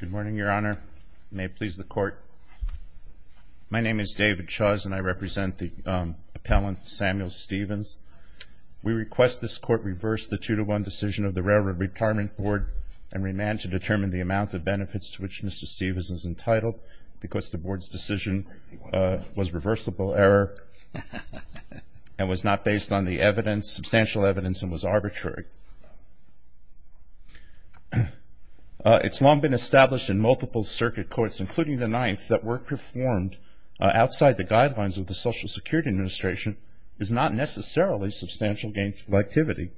Good morning, Your Honor. May it please the Court. My name is David Chuzz and I represent the appellant, Samuel Stephens. We request this Court reverse the 2-1 decision of the Railroad Retirement Board and remand to determine the amount of benefits to which Mr. Stephens is entitled because the Board's decision was reversible error and was not based on substantial evidence and was arbitrary. It's long been established in multiple circuit courts, including the Ninth, that work performed outside the guidelines of the Social Security Administration is not necessarily substantial gainful activity.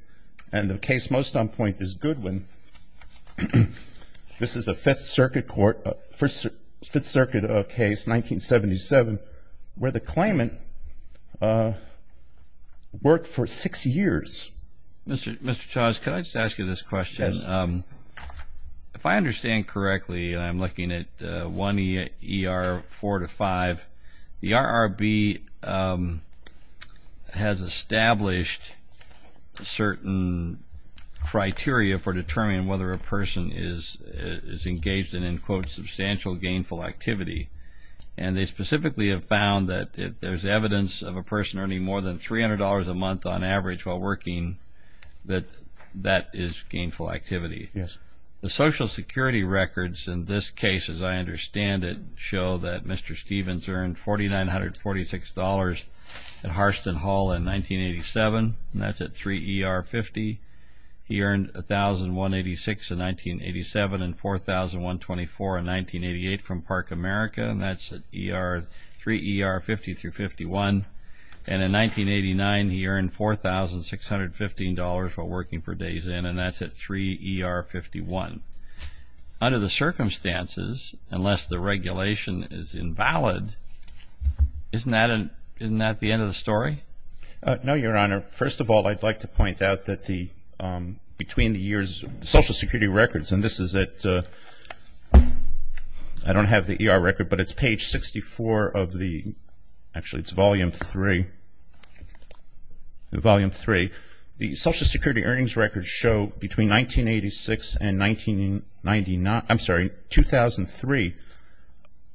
And the case most on point is Goodwin. This is a Fifth Circuit case, 1977, where the claimant worked for six years. Mr. Chuzz, can I just ask you this question? If I understand correctly, and I'm looking at 1ER 4-5, the RRB has established certain criteria for determining whether a person is engaged in, in quote, substantial gainful activity. And they specifically have found that if there's evidence of a person earning more than $300 a month on average while working, that is gainful activity. The Social Security records in this case, as I understand it, show that Mr. Stephens earned $4,946 at Harston Hall in 1987, and that's at 3ER 50. He earned $1,186 in 1987 and $4,124 in 1988 from Park America, and that's at 3ER 50 through 51. And in 1989, he earned $4,615 while working for Days Inn, and that's at 3ER 51. Under the circumstances, unless the regulation is invalid, isn't that the end of the story? No, Your Honor. First of all, I'd like to point out that the, between the years, the Social Security records, and this is at, I don't have the ER record, but it's page 64 of the, actually it's volume three, volume three. The Social Security earnings records show between 1986 and 1999, I'm sorry, 2003,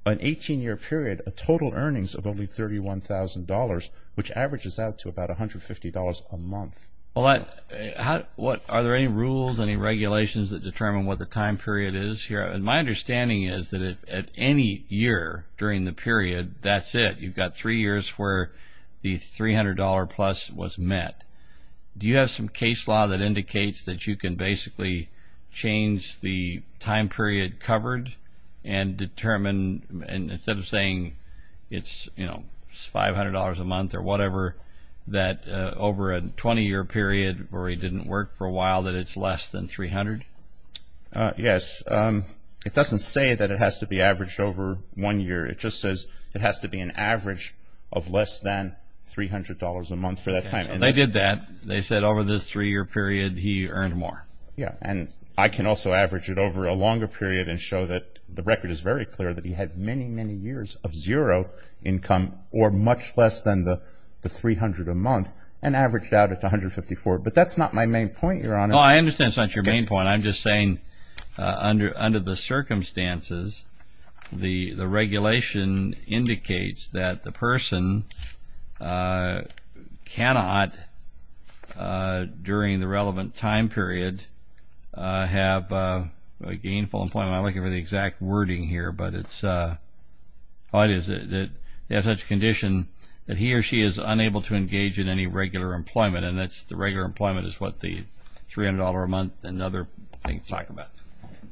an 18-year period, a total earnings of only $131,000, which averages out to about $150 a month. Are there any rules, any regulations that determine what the time period is here? And my understanding is that at any year during the period, that's it. You've got three years where the $300 plus was met. Do you have some case law that indicates that you can basically change the time period covered and determine, instead of saying it's $500 a month or whatever, that over a 20-year period where he didn't work for a while, that it's less than $300? Yes. It doesn't say that it has to be averaged over one year. It just says it has to be an average of less than $300 a month for that time. They did that. They said over this three-year period, he earned more. Yes. And I can also average it over a longer period and show that the record is very clear that he had many, many years of zero income or much less than the $300 a month and averaged out at $154. But that's not my main point, Your Honor. No, I understand it's not your main point. I'm just saying under the circumstances, the have a gainful employment. I'm not looking for the exact wording here, but the idea is that they have such condition that he or she is unable to engage in any regular employment, and the regular employment is what the $300 a month and other things talk about.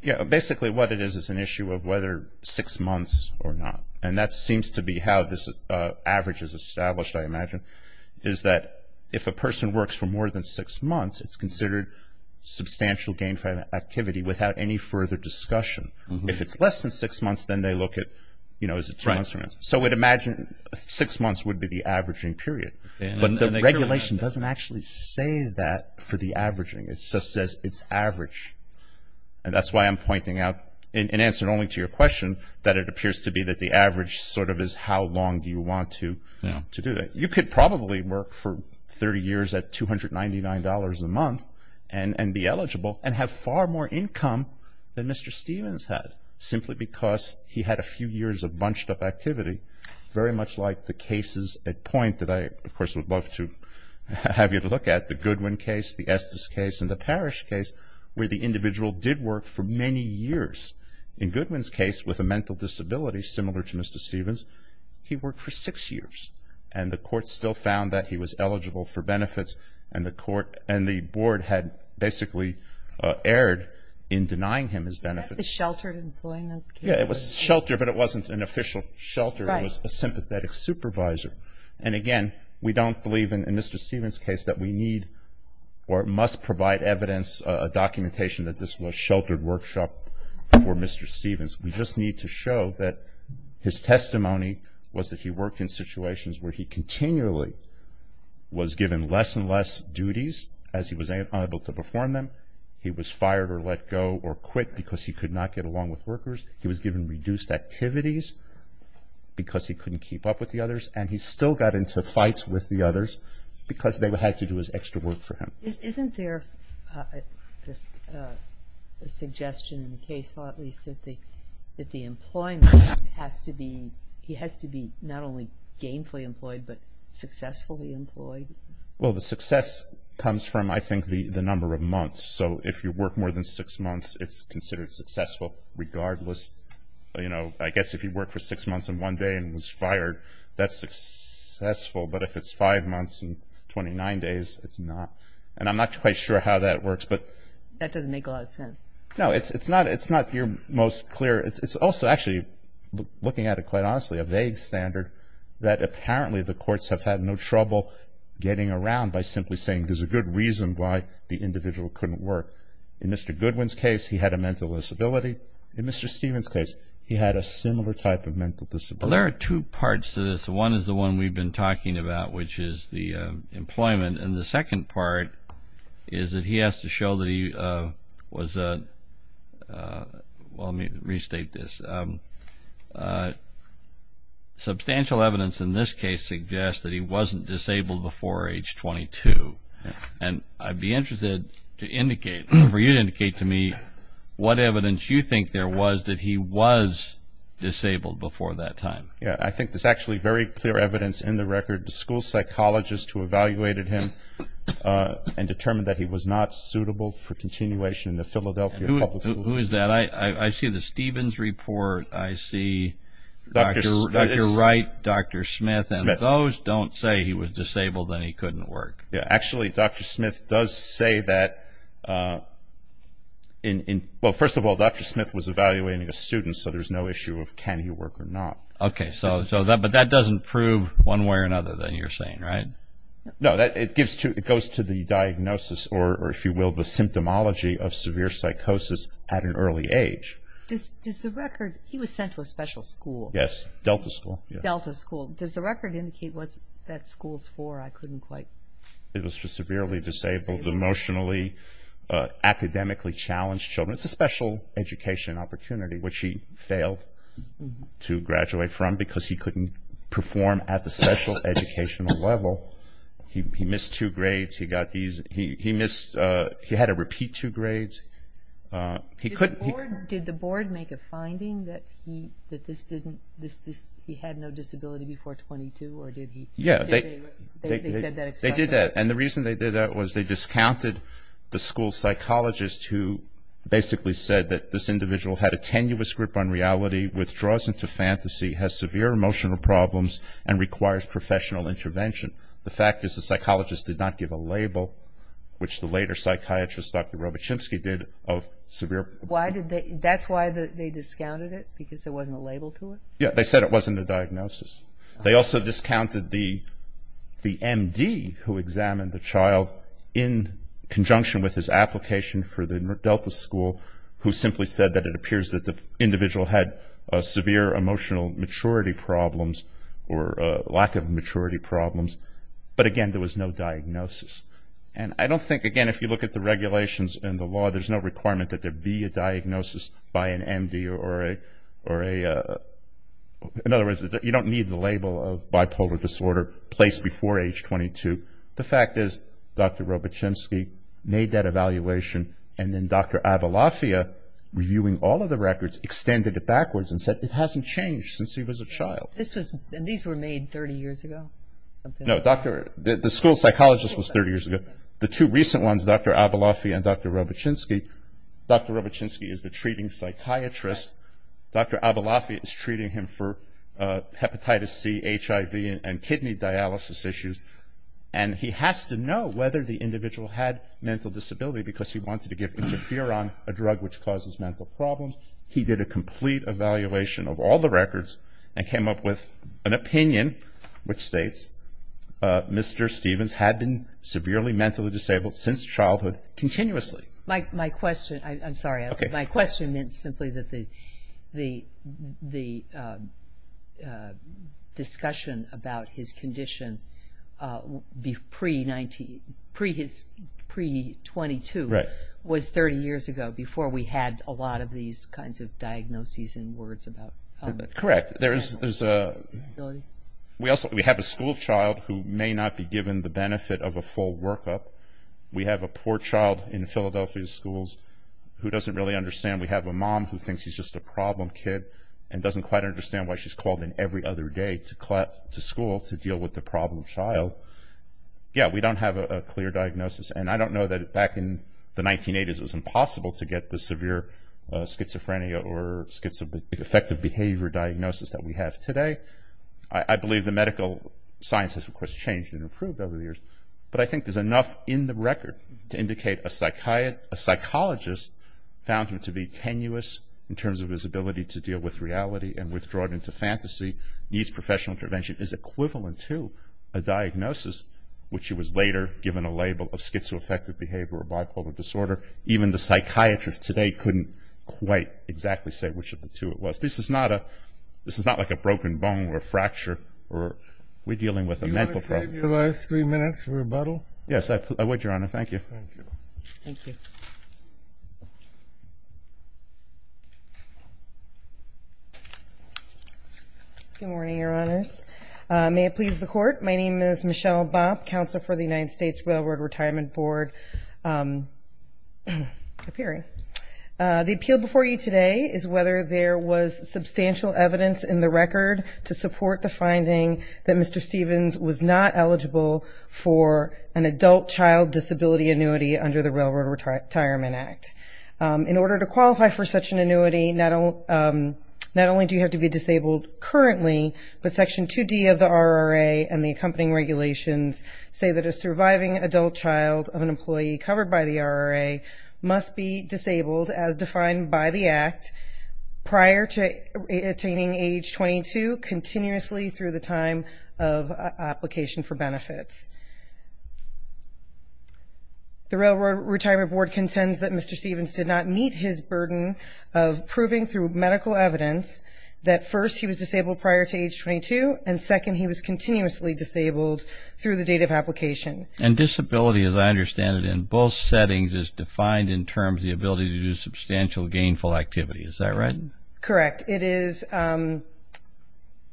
Yes. Basically, what it is is an issue of whether six months or not, and that seems to be how this average is established, I imagine, is that if a person works for more than six months, it's considered substantial gainful activity without any further discussion. If it's less than six months, then they look at, you know, is it two months or not. So we'd imagine six months would be the averaging period. But the regulation doesn't actually say that for the averaging. It just says it's average. And that's why I'm pointing out, in answer only to your question, that it appears to be that the average sort of is how long do you want to do that. You could probably work for 30 years at $299 a month and be eligible and have far more income than Mr. Stevens had simply because he had a few years of bunched up activity, very much like the cases at point that I, of course, would love to have you to look at, the Goodwin case, the Estes case, and the Parrish case, where the individual did work for many years. In Goodwin's case, with a mental disability similar to Mr. Stevens, he worked for six years. And the court still found that he was eligible for benefits. And the court and the board had basically erred in denying him his benefits. Is that the sheltered employment case? Yeah. It was sheltered, but it wasn't an official shelter. It was a sympathetic supervisor. And again, we don't believe in Mr. Stevens' case that we need or must provide evidence, a documentation that this was a sheltered workshop for Mr. Stevens. We just need to show that his testimony was that he worked in situations where he continually was given less and less duties as he was unable to perform them. He was fired or let go or quit because he could not get along with workers. He was given reduced activities because he couldn't keep up with the others. And he still got into fights with the others because they had to do his extra work for him. Isn't there a suggestion in the case law at least that the employment has to be, he has to be not only gainfully employed, but successfully employed? Well, the success comes from, I think, the number of months. So if you work more than six months, it's considered successful regardless. I guess if he worked for six months and one day and was fired, that's successful. But if it's five months and 29 days, it's not. And I'm not quite sure how that works. That doesn't make a lot of sense. No, it's not your most clear. It's also actually, looking at it quite honestly, a vague standard that apparently the courts have had no trouble getting around by simply saying there's a good reason why the individual couldn't work. In Mr. Goodwin's case, he had a mental disability. In Mr. Stevens' case, he had a similar type of mental disability. Well, there are two parts to this. One is the one we've been talking about, which is the employment. And the second part is that he has to show that he was, well, let me restate this. Substantial evidence in this case suggests that he wasn't disabled before age 22. And I'd be interested to indicate, for you to indicate to me, what evidence you think there was that he was disabled before that time. Yeah, I think there's actually very clear evidence in the record. The school psychologist who evaluated him and determined that he was not suitable for continuation in the Philadelphia Public Schools. Who is that? I see the Stevens report. I see Dr. Wright, Dr. Smith. And if those don't say he was disabled, then he couldn't work. Actually, Dr. Smith does say that, well, first of all, Dr. Smith was evaluating a student, so there's no issue of can he work or not. Okay, but that doesn't prove one way or another that you're saying, right? No, it goes to the diagnosis, or if you will, the symptomology of severe psychosis at an early age. Does the record, he was sent to a special school. Yes, Delta School. Delta School. Does the record indicate what that school's for? I couldn't quite... It was for severely disabled, emotionally, academically challenged children. It's a special education opportunity, which he failed to graduate from because he couldn't perform at the special educational level. He missed two grades. He had to repeat two grades. Did the board make a finding that he had no disability before 22? Yeah, they did that, and the reason they did that was they discounted the school psychologist who basically said that this individual had a tenuous grip on reality, withdraws into fantasy, has severe emotional problems, and requires professional intervention. The fact is the psychologist did not give a label, which the later psychiatrist, Dr. Robichinsky, did of severe... That's why they discounted it, because there wasn't a label to it? Yeah, they said it wasn't a diagnosis. They also discounted the MD who examined the child in conjunction with his application for the Delta School who simply said that it appears that the individual had severe emotional maturity problems or lack of maturity problems, but again, there was no diagnosis. And I don't think, again, if you look at the regulations and the law, there's no requirement that there be a diagnosis by an MD or a... In other words, you don't need the label of bipolar disorder placed before age 22. The fact is Dr. Robichinsky made that evaluation, and then Dr. Abelofia, reviewing all of the records, extended it backwards and said it hasn't changed since he was a child. And these were made 30 years ago? No, the school psychologist was 30 years ago. The two recent ones, Dr. Abelofia and Dr. Robichinsky, Dr. Robichinsky is the treating psychiatrist. Dr. Abelofia is treating him for hepatitis C, HIV, and kidney dialysis issues. And he has to know whether the individual had mental disability because he wanted to give interferon, a drug which causes mental problems. He did a complete evaluation of all the records and came up with an opinion which states Mr. Stevens had been severely mentally disabled since childhood, continuously. My question, I'm sorry, my question meant simply that the discussion about his condition pre-22 was 30 years ago before we had a lot of these kinds of diagnoses and words about... Correct. We have a school child who may not be given the benefit of a full workup. We have a poor child in Philadelphia schools who doesn't really understand. We have a mom who thinks he's just a problem kid and doesn't quite understand why she's called in every other day to school to deal with the problem child. Yeah, we don't have a clear diagnosis. And I don't know that back in the 1980s it was impossible to get the severe schizophrenia or schizoaffective behavior diagnosis that we have today. I believe the medical science has, of course, changed and improved over the years. But I think there's enough in the record to indicate a psychologist found him to be tenuous in terms of his ability to deal with reality and withdraw it into fantasy, needs professional intervention, is equivalent to a diagnosis, which he was later given a label of schizoaffective behavior or bipolar disorder. Even the psychiatrist today couldn't quite exactly say which of the two it was. This is not like a broken bone or a fracture. We're dealing with a mental problem. Do you want to save your last three minutes for rebuttal? Yes, I would, Your Honor. Thank you. Good morning, Your Honors. May it please the Court, my name is Michelle Bopp, Counsel for the United States Railroad Retirement Board. The appeal before you today is whether there was substantial evidence in the record to support the finding that Mr. Stevens was not eligible for an adult child disability annuity under the Railroad Retirement Act. In order to qualify for such an annuity, not only do you have to be disabled currently, but Section 2D of the RRA and the accompanying regulations say that a surviving adult child of an employee covered by the RRA must be disabled as defined by the Act prior to attaining age 22 continuously through the time of application for benefits. The Railroad Retirement Board contends that Mr. Stevens did not meet his burden of proving through medical evidence that first, he was disabled prior to age 22 and second, he was continuously disabled through the date of application. And disability, as I understand it, in both settings is defined in terms of the ability to do substantial gainful activity, is that right? Correct. It is an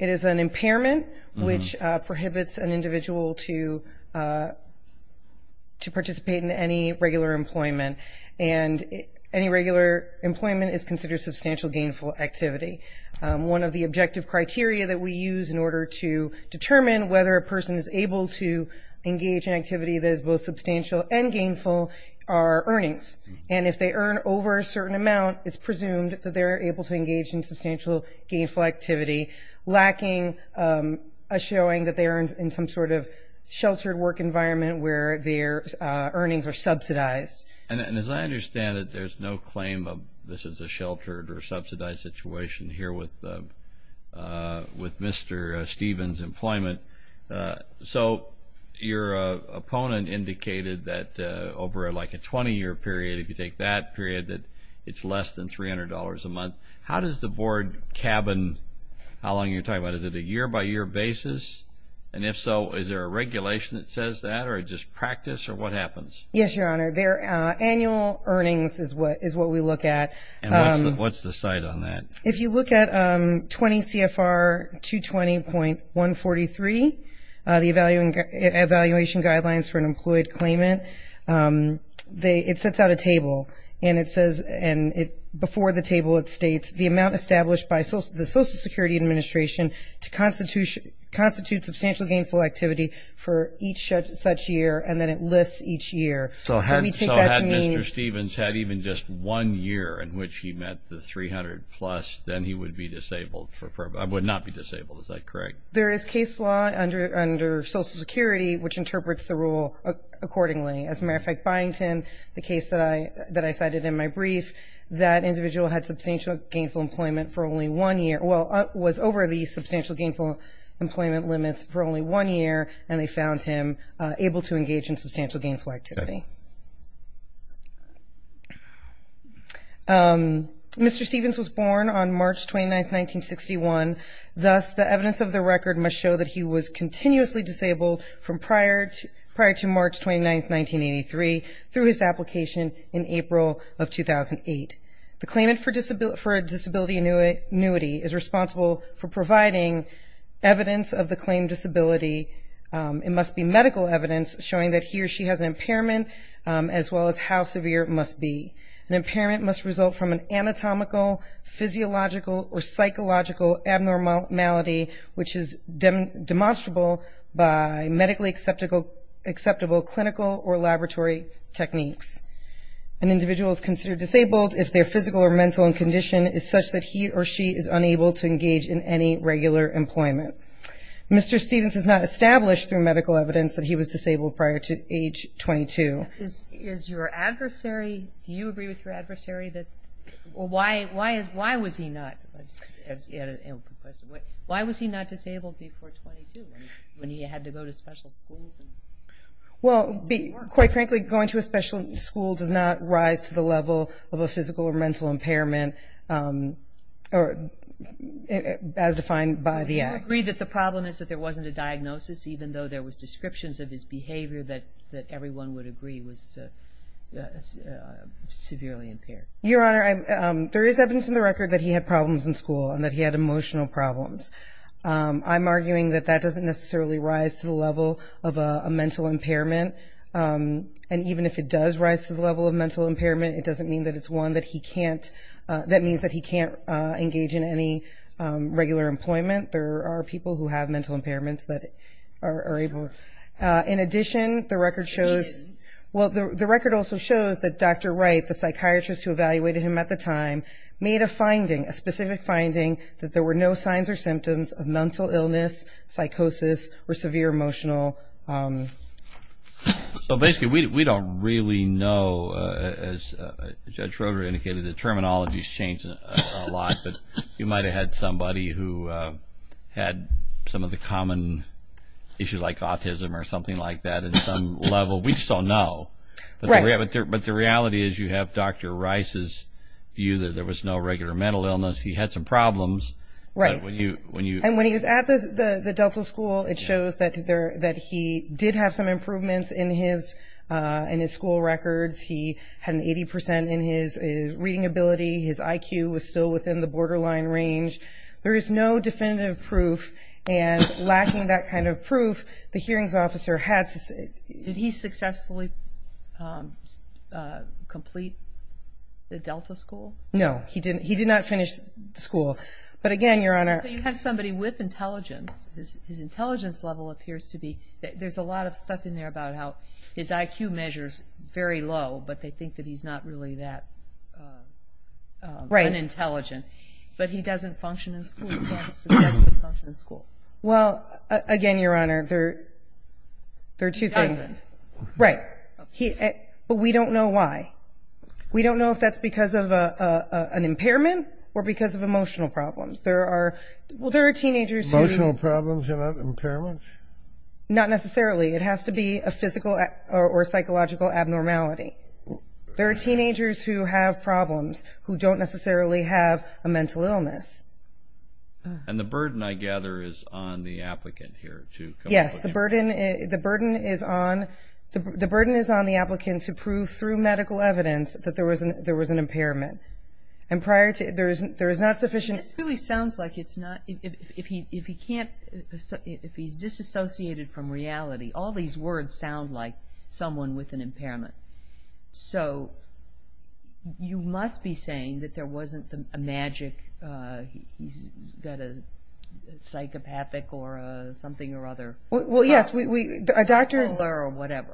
impairment which prohibits an individual to participate in any regular employment and any regular employment is considered substantial gainful activity. One of the objective criteria that we use in order to determine whether a person is able to engage in activity that is both substantial and gainful are earnings. And if they earn over a certain amount, it's presumed that they're able to engage in substantial gainful activity lacking a showing that they're in some sort of sheltered work environment where their earnings are subsidized. And as I understand it, there's no claim of this is a sheltered or subsidized situation here with Mr. Stevens' employment. So, your opponent indicated that over like a 20-year period, if you take that period, that it's less than $300 a month. How does the board cabin how long you're talking about, is it a year-by-year basis? And if so, is there a regulation that says that or just practice or what happens? Annual earnings is what we look at. And what's the site on that? If you look at 20 CFR 220.143, the Evaluation Guidelines for an Employed Claimant, it sets out a table and it says before the table it states, the amount established by the Social Security Administration to constitute substantial gainful activity for each such year and then it lists each year. So had Mr. Stevens had even just one year in which he met the $300 plus, then he would be disabled would not be disabled, is that correct? There is case law under Social Security which interprets the rule accordingly. As a matter of fact, Byington, the case that I cited in my brief, that individual had substantial gainful employment for only one year was over the substantial gainful employment limits for only one year and they found him able to engage in substantial gainful activity. Mr. Stevens was born on March 29, 1961. Thus, the evidence of the record must show that he was continuously disabled from prior to March 29, 1983 through his application in April of 2008. The claimant for disability annuity is responsible for providing evidence of the claimed disability. It must be medical evidence showing that he or she has an impairment as well as how severe it must be. An impairment must result from an anatomical, physiological or psychological abnormality which is demonstrable by medically acceptable clinical or laboratory techniques. An individual is considered disabled if their physical or mental condition is such that he or she is unable to engage in any regular employment. Mr. Stevens is not established through medical evidence that he was disabled prior to age 22. Do you agree with your adversary? Why was he not disabled before 22 when he had to go to special schools? Well, quite frankly, going to a special school does not rise to the level of a physical or mental impairment as defined by the Act. Your Honor, there is evidence in the record that he had problems in school and that he had emotional problems. I'm arguing that that doesn't necessarily rise to the level of a mental impairment. And even if it does rise to the level of mental impairment, it doesn't mean that it's one that he can't engage in any regular employment. There are people who have mental impairments that are able. In addition, the record also shows that Dr. Wright, the psychiatrist who evaluated him at the time, made a finding, a specific finding, that there were no signs or symptoms of mental illness, psychosis, or severe emotional... So basically, we don't really know, as Judge Schroeder indicated, the terminology's changed a lot, but you might have had somebody who had some of the common issues like autism or something like that at some level. We just don't know. But the reality is you have Dr. Rice's view that there was no regular mental illness. He had some problems. Right. And when he was at the Delta School, it shows that he did have some improvements in his school records. He had an 80% in his reading ability. His IQ was still within the borderline range. There is no definitive proof, and lacking that kind of proof, the hearings officer had... Did he successfully complete the Delta School? No. He did not finish school. But again, Your Honor... So you have somebody with intelligence. His intelligence level appears to be... There's a lot of stuff in there about how his IQ measures very low, but they think that he's not really that unintelligent. But he doesn't function in school. He can't successfully function in school. Well, again, Your Honor, there are two things. He doesn't. Right. But we don't know why. We don't know if that's because of an impairment or because of emotional problems. There are teenagers who... Emotional problems and not impairments? Not necessarily. It has to be a physical or psychological abnormality. There are teenagers who have problems who don't necessarily have a mental illness. And the burden, I gather, is on the applicant here to... Yes. The burden is on the applicant to prove through medical evidence that there was an impairment. And prior to... There is not sufficient... If he's disassociated from reality, all these words sound like someone with an impairment. So you must be saying that there wasn't a magic... that a psychopathic or something or other... Well, yes. A doctor...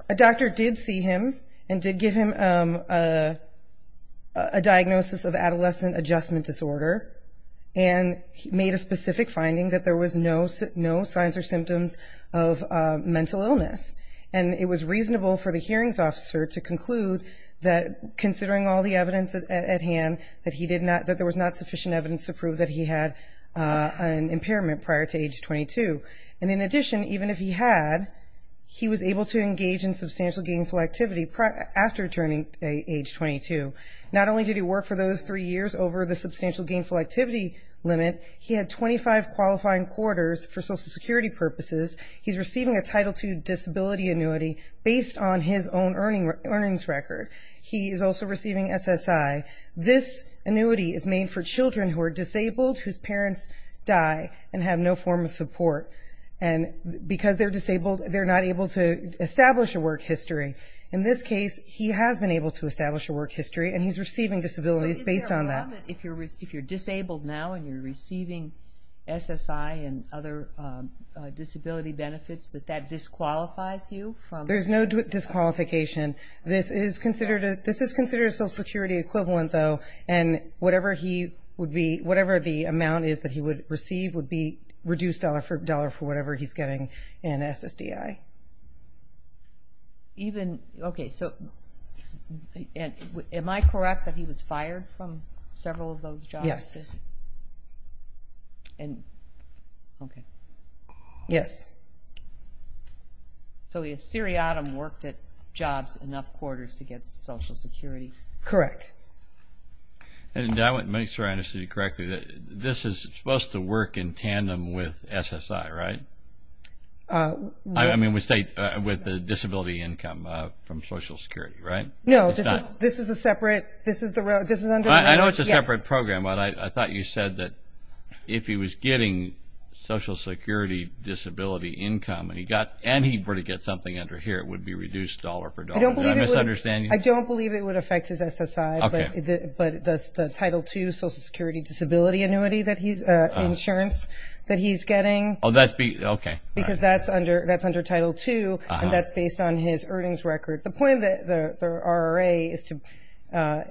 A doctor did see him and did give him a diagnosis of adolescent adjustment disorder and made a specific finding that there was no signs or symptoms of mental illness. And it was reasonable for the hearings officer to conclude that considering all the evidence at hand, that there was not sufficient evidence to prove that he had an impairment prior to age 22. And in addition, even if he had, he was able to engage in substantial gainful activity after turning age 22. Not only did he work for those three years over the substantial gainful activity limit, he had 25 qualifying quarters for Social Security purposes. He's receiving a Title II disability annuity based on his own earnings record. He is also receiving SSI. This annuity is made for children who are disabled, whose parents die and have no form of support. And because they're disabled, they're not able to establish a work history. In this case, he has been able to establish a work history, and he's receiving disabilities based on that. So is there a limit if you're disabled now and you're receiving SSI and other disability benefits, that that disqualifies you from... There's no disqualification. This is considered a Social Security equivalent, though, and whatever the amount is that he would receive would be reduced dollar for dollar for whatever he's getting in SSDI. Am I correct that he was fired from several of those jobs? Yes. Okay. Yes. So the seriatim worked at jobs enough quarters to get Social Security? Correct. And did I make sure I understood you correctly that this is supposed to work in tandem with SSI, right? I mean, with the disability income from Social Security, right? No, this is a separate... I know it's a separate program, but I thought you were getting Social Security disability income, and he'd probably get something under here. It would be reduced dollar for dollar. Did I misunderstand you? I don't believe it would affect his SSI, but the Title II Social Security disability annuity that he's... insurance that he's getting, because that's under Title II, and that's based on his earnings record. The point of the RRA is to...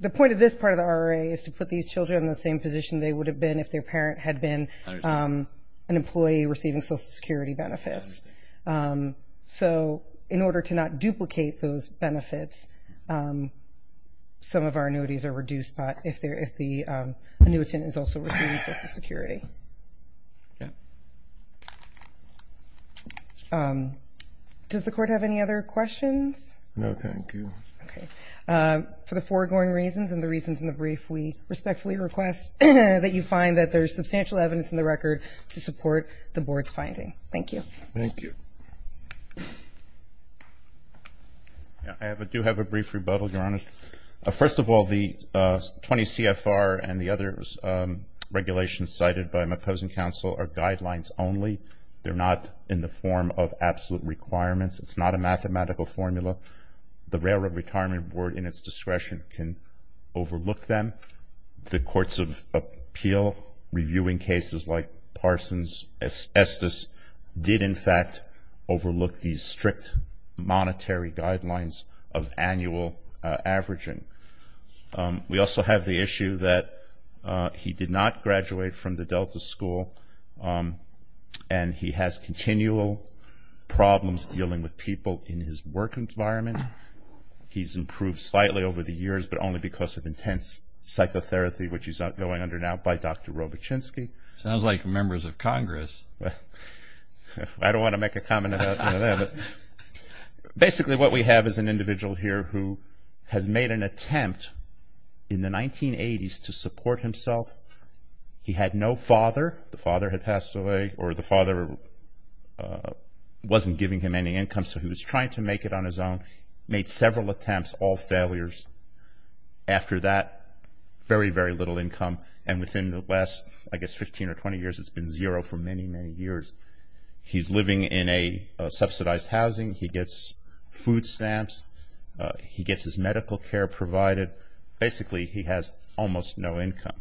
The point of this part of the RRA is to put these children in the same position they would have been if their parent had been an employee receiving Social Security benefits. So in order to not duplicate those benefits, some of our annuities are reduced, but if the annuitant is also receiving Social Security. Does the Court have any other questions? No, thank you. For the foregoing reasons and the reasons in the brief, we respectfully request that you find that there's substantial evidence in the record to support the Board's finding. Thank you. Thank you. I do have a brief rebuttal, Your Honor. First of all, the 20 CFR and the other regulations cited by my opposing counsel are guidelines only. They're not in the form of absolute requirements. It's not a mathematical formula. The Railroad Retirement Board, in its discretion, can overlook them. The Courts of Appeal, reviewing cases like Parsons, Estes, did in fact overlook these strict monetary guidelines of annual averaging. We also have the issue that he did not graduate from the Delta School and he has continual problems dealing with people in his work environment. He's improved slightly over the years, but only because of intense psychotherapy, which he's going under now by Dr. Robichinsky. Sounds like members of Congress. I don't want to make a comment about any of that. Basically, what we have is an individual here who has made an attempt in the 1980s to support himself. He had no father. The father had passed away. He wasn't giving him any income, so he was trying to make it on his own. He made several attempts, all failures. After that, very, very little income. And within the last, I guess, 15 or 20 years, it's been zero for many, many years. He's living in a subsidized housing. He gets food stamps. He gets his medical care provided. Basically, he has almost no income.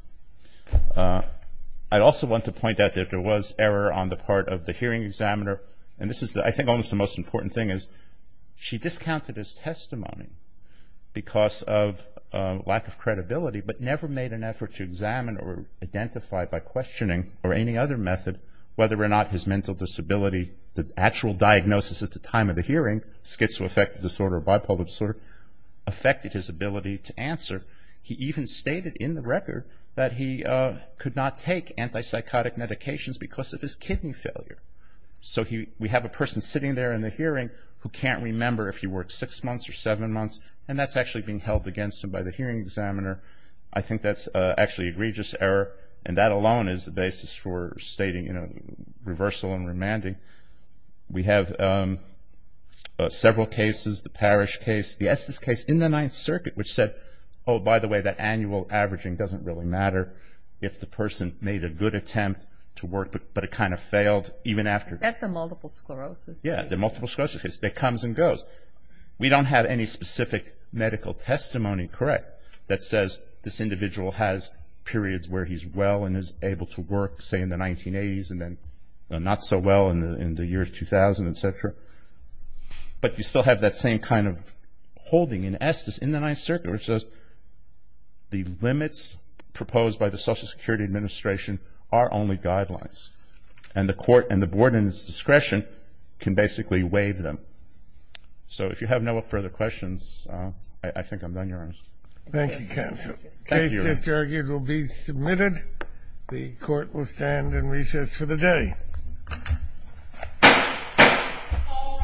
I also want to point out that there was error on the part of the hearing examiner. I think this is almost the most important thing. She discounted his testimony because of lack of credibility, but never made an effort to examine or identify by questioning or any other method whether or not his mental disability, the actual diagnosis at the time of the hearing, schizoaffective disorder or bipolar disorder, affected his ability to answer. He even stated in the record that he could not take antipsychotic medications because of his kidney failure. So we have a person sitting there in the hearing who can't remember if he worked six months or seven months, and that's actually being held against him by the hearing examiner. I think that's actually egregious error, and that alone is the basis for stating reversal and remanding. We have several cases, the Parish case, the Estes case in the Ninth Circuit, which said, oh, by the way, that annual averaging doesn't really matter if the person made a good attempt to work, but it kind of failed even after. Is that the multiple sclerosis case? Yeah, the multiple sclerosis case that comes and goes. We don't have any specific medical testimony that says this individual has periods where he's well and is able to work, say, in the 1980s and then not so well in the year 2000, etc. But you still have that same kind of in the Ninth Circuit, which says the limits proposed by the Social Security Administration are only guidelines, and the court and the board in its discretion can basically waive them. So if you have no further questions, I think I'm done, Your Honor. Thank you, counsel. The case just argued will be submitted. The court will stand in recess for the day. All rise.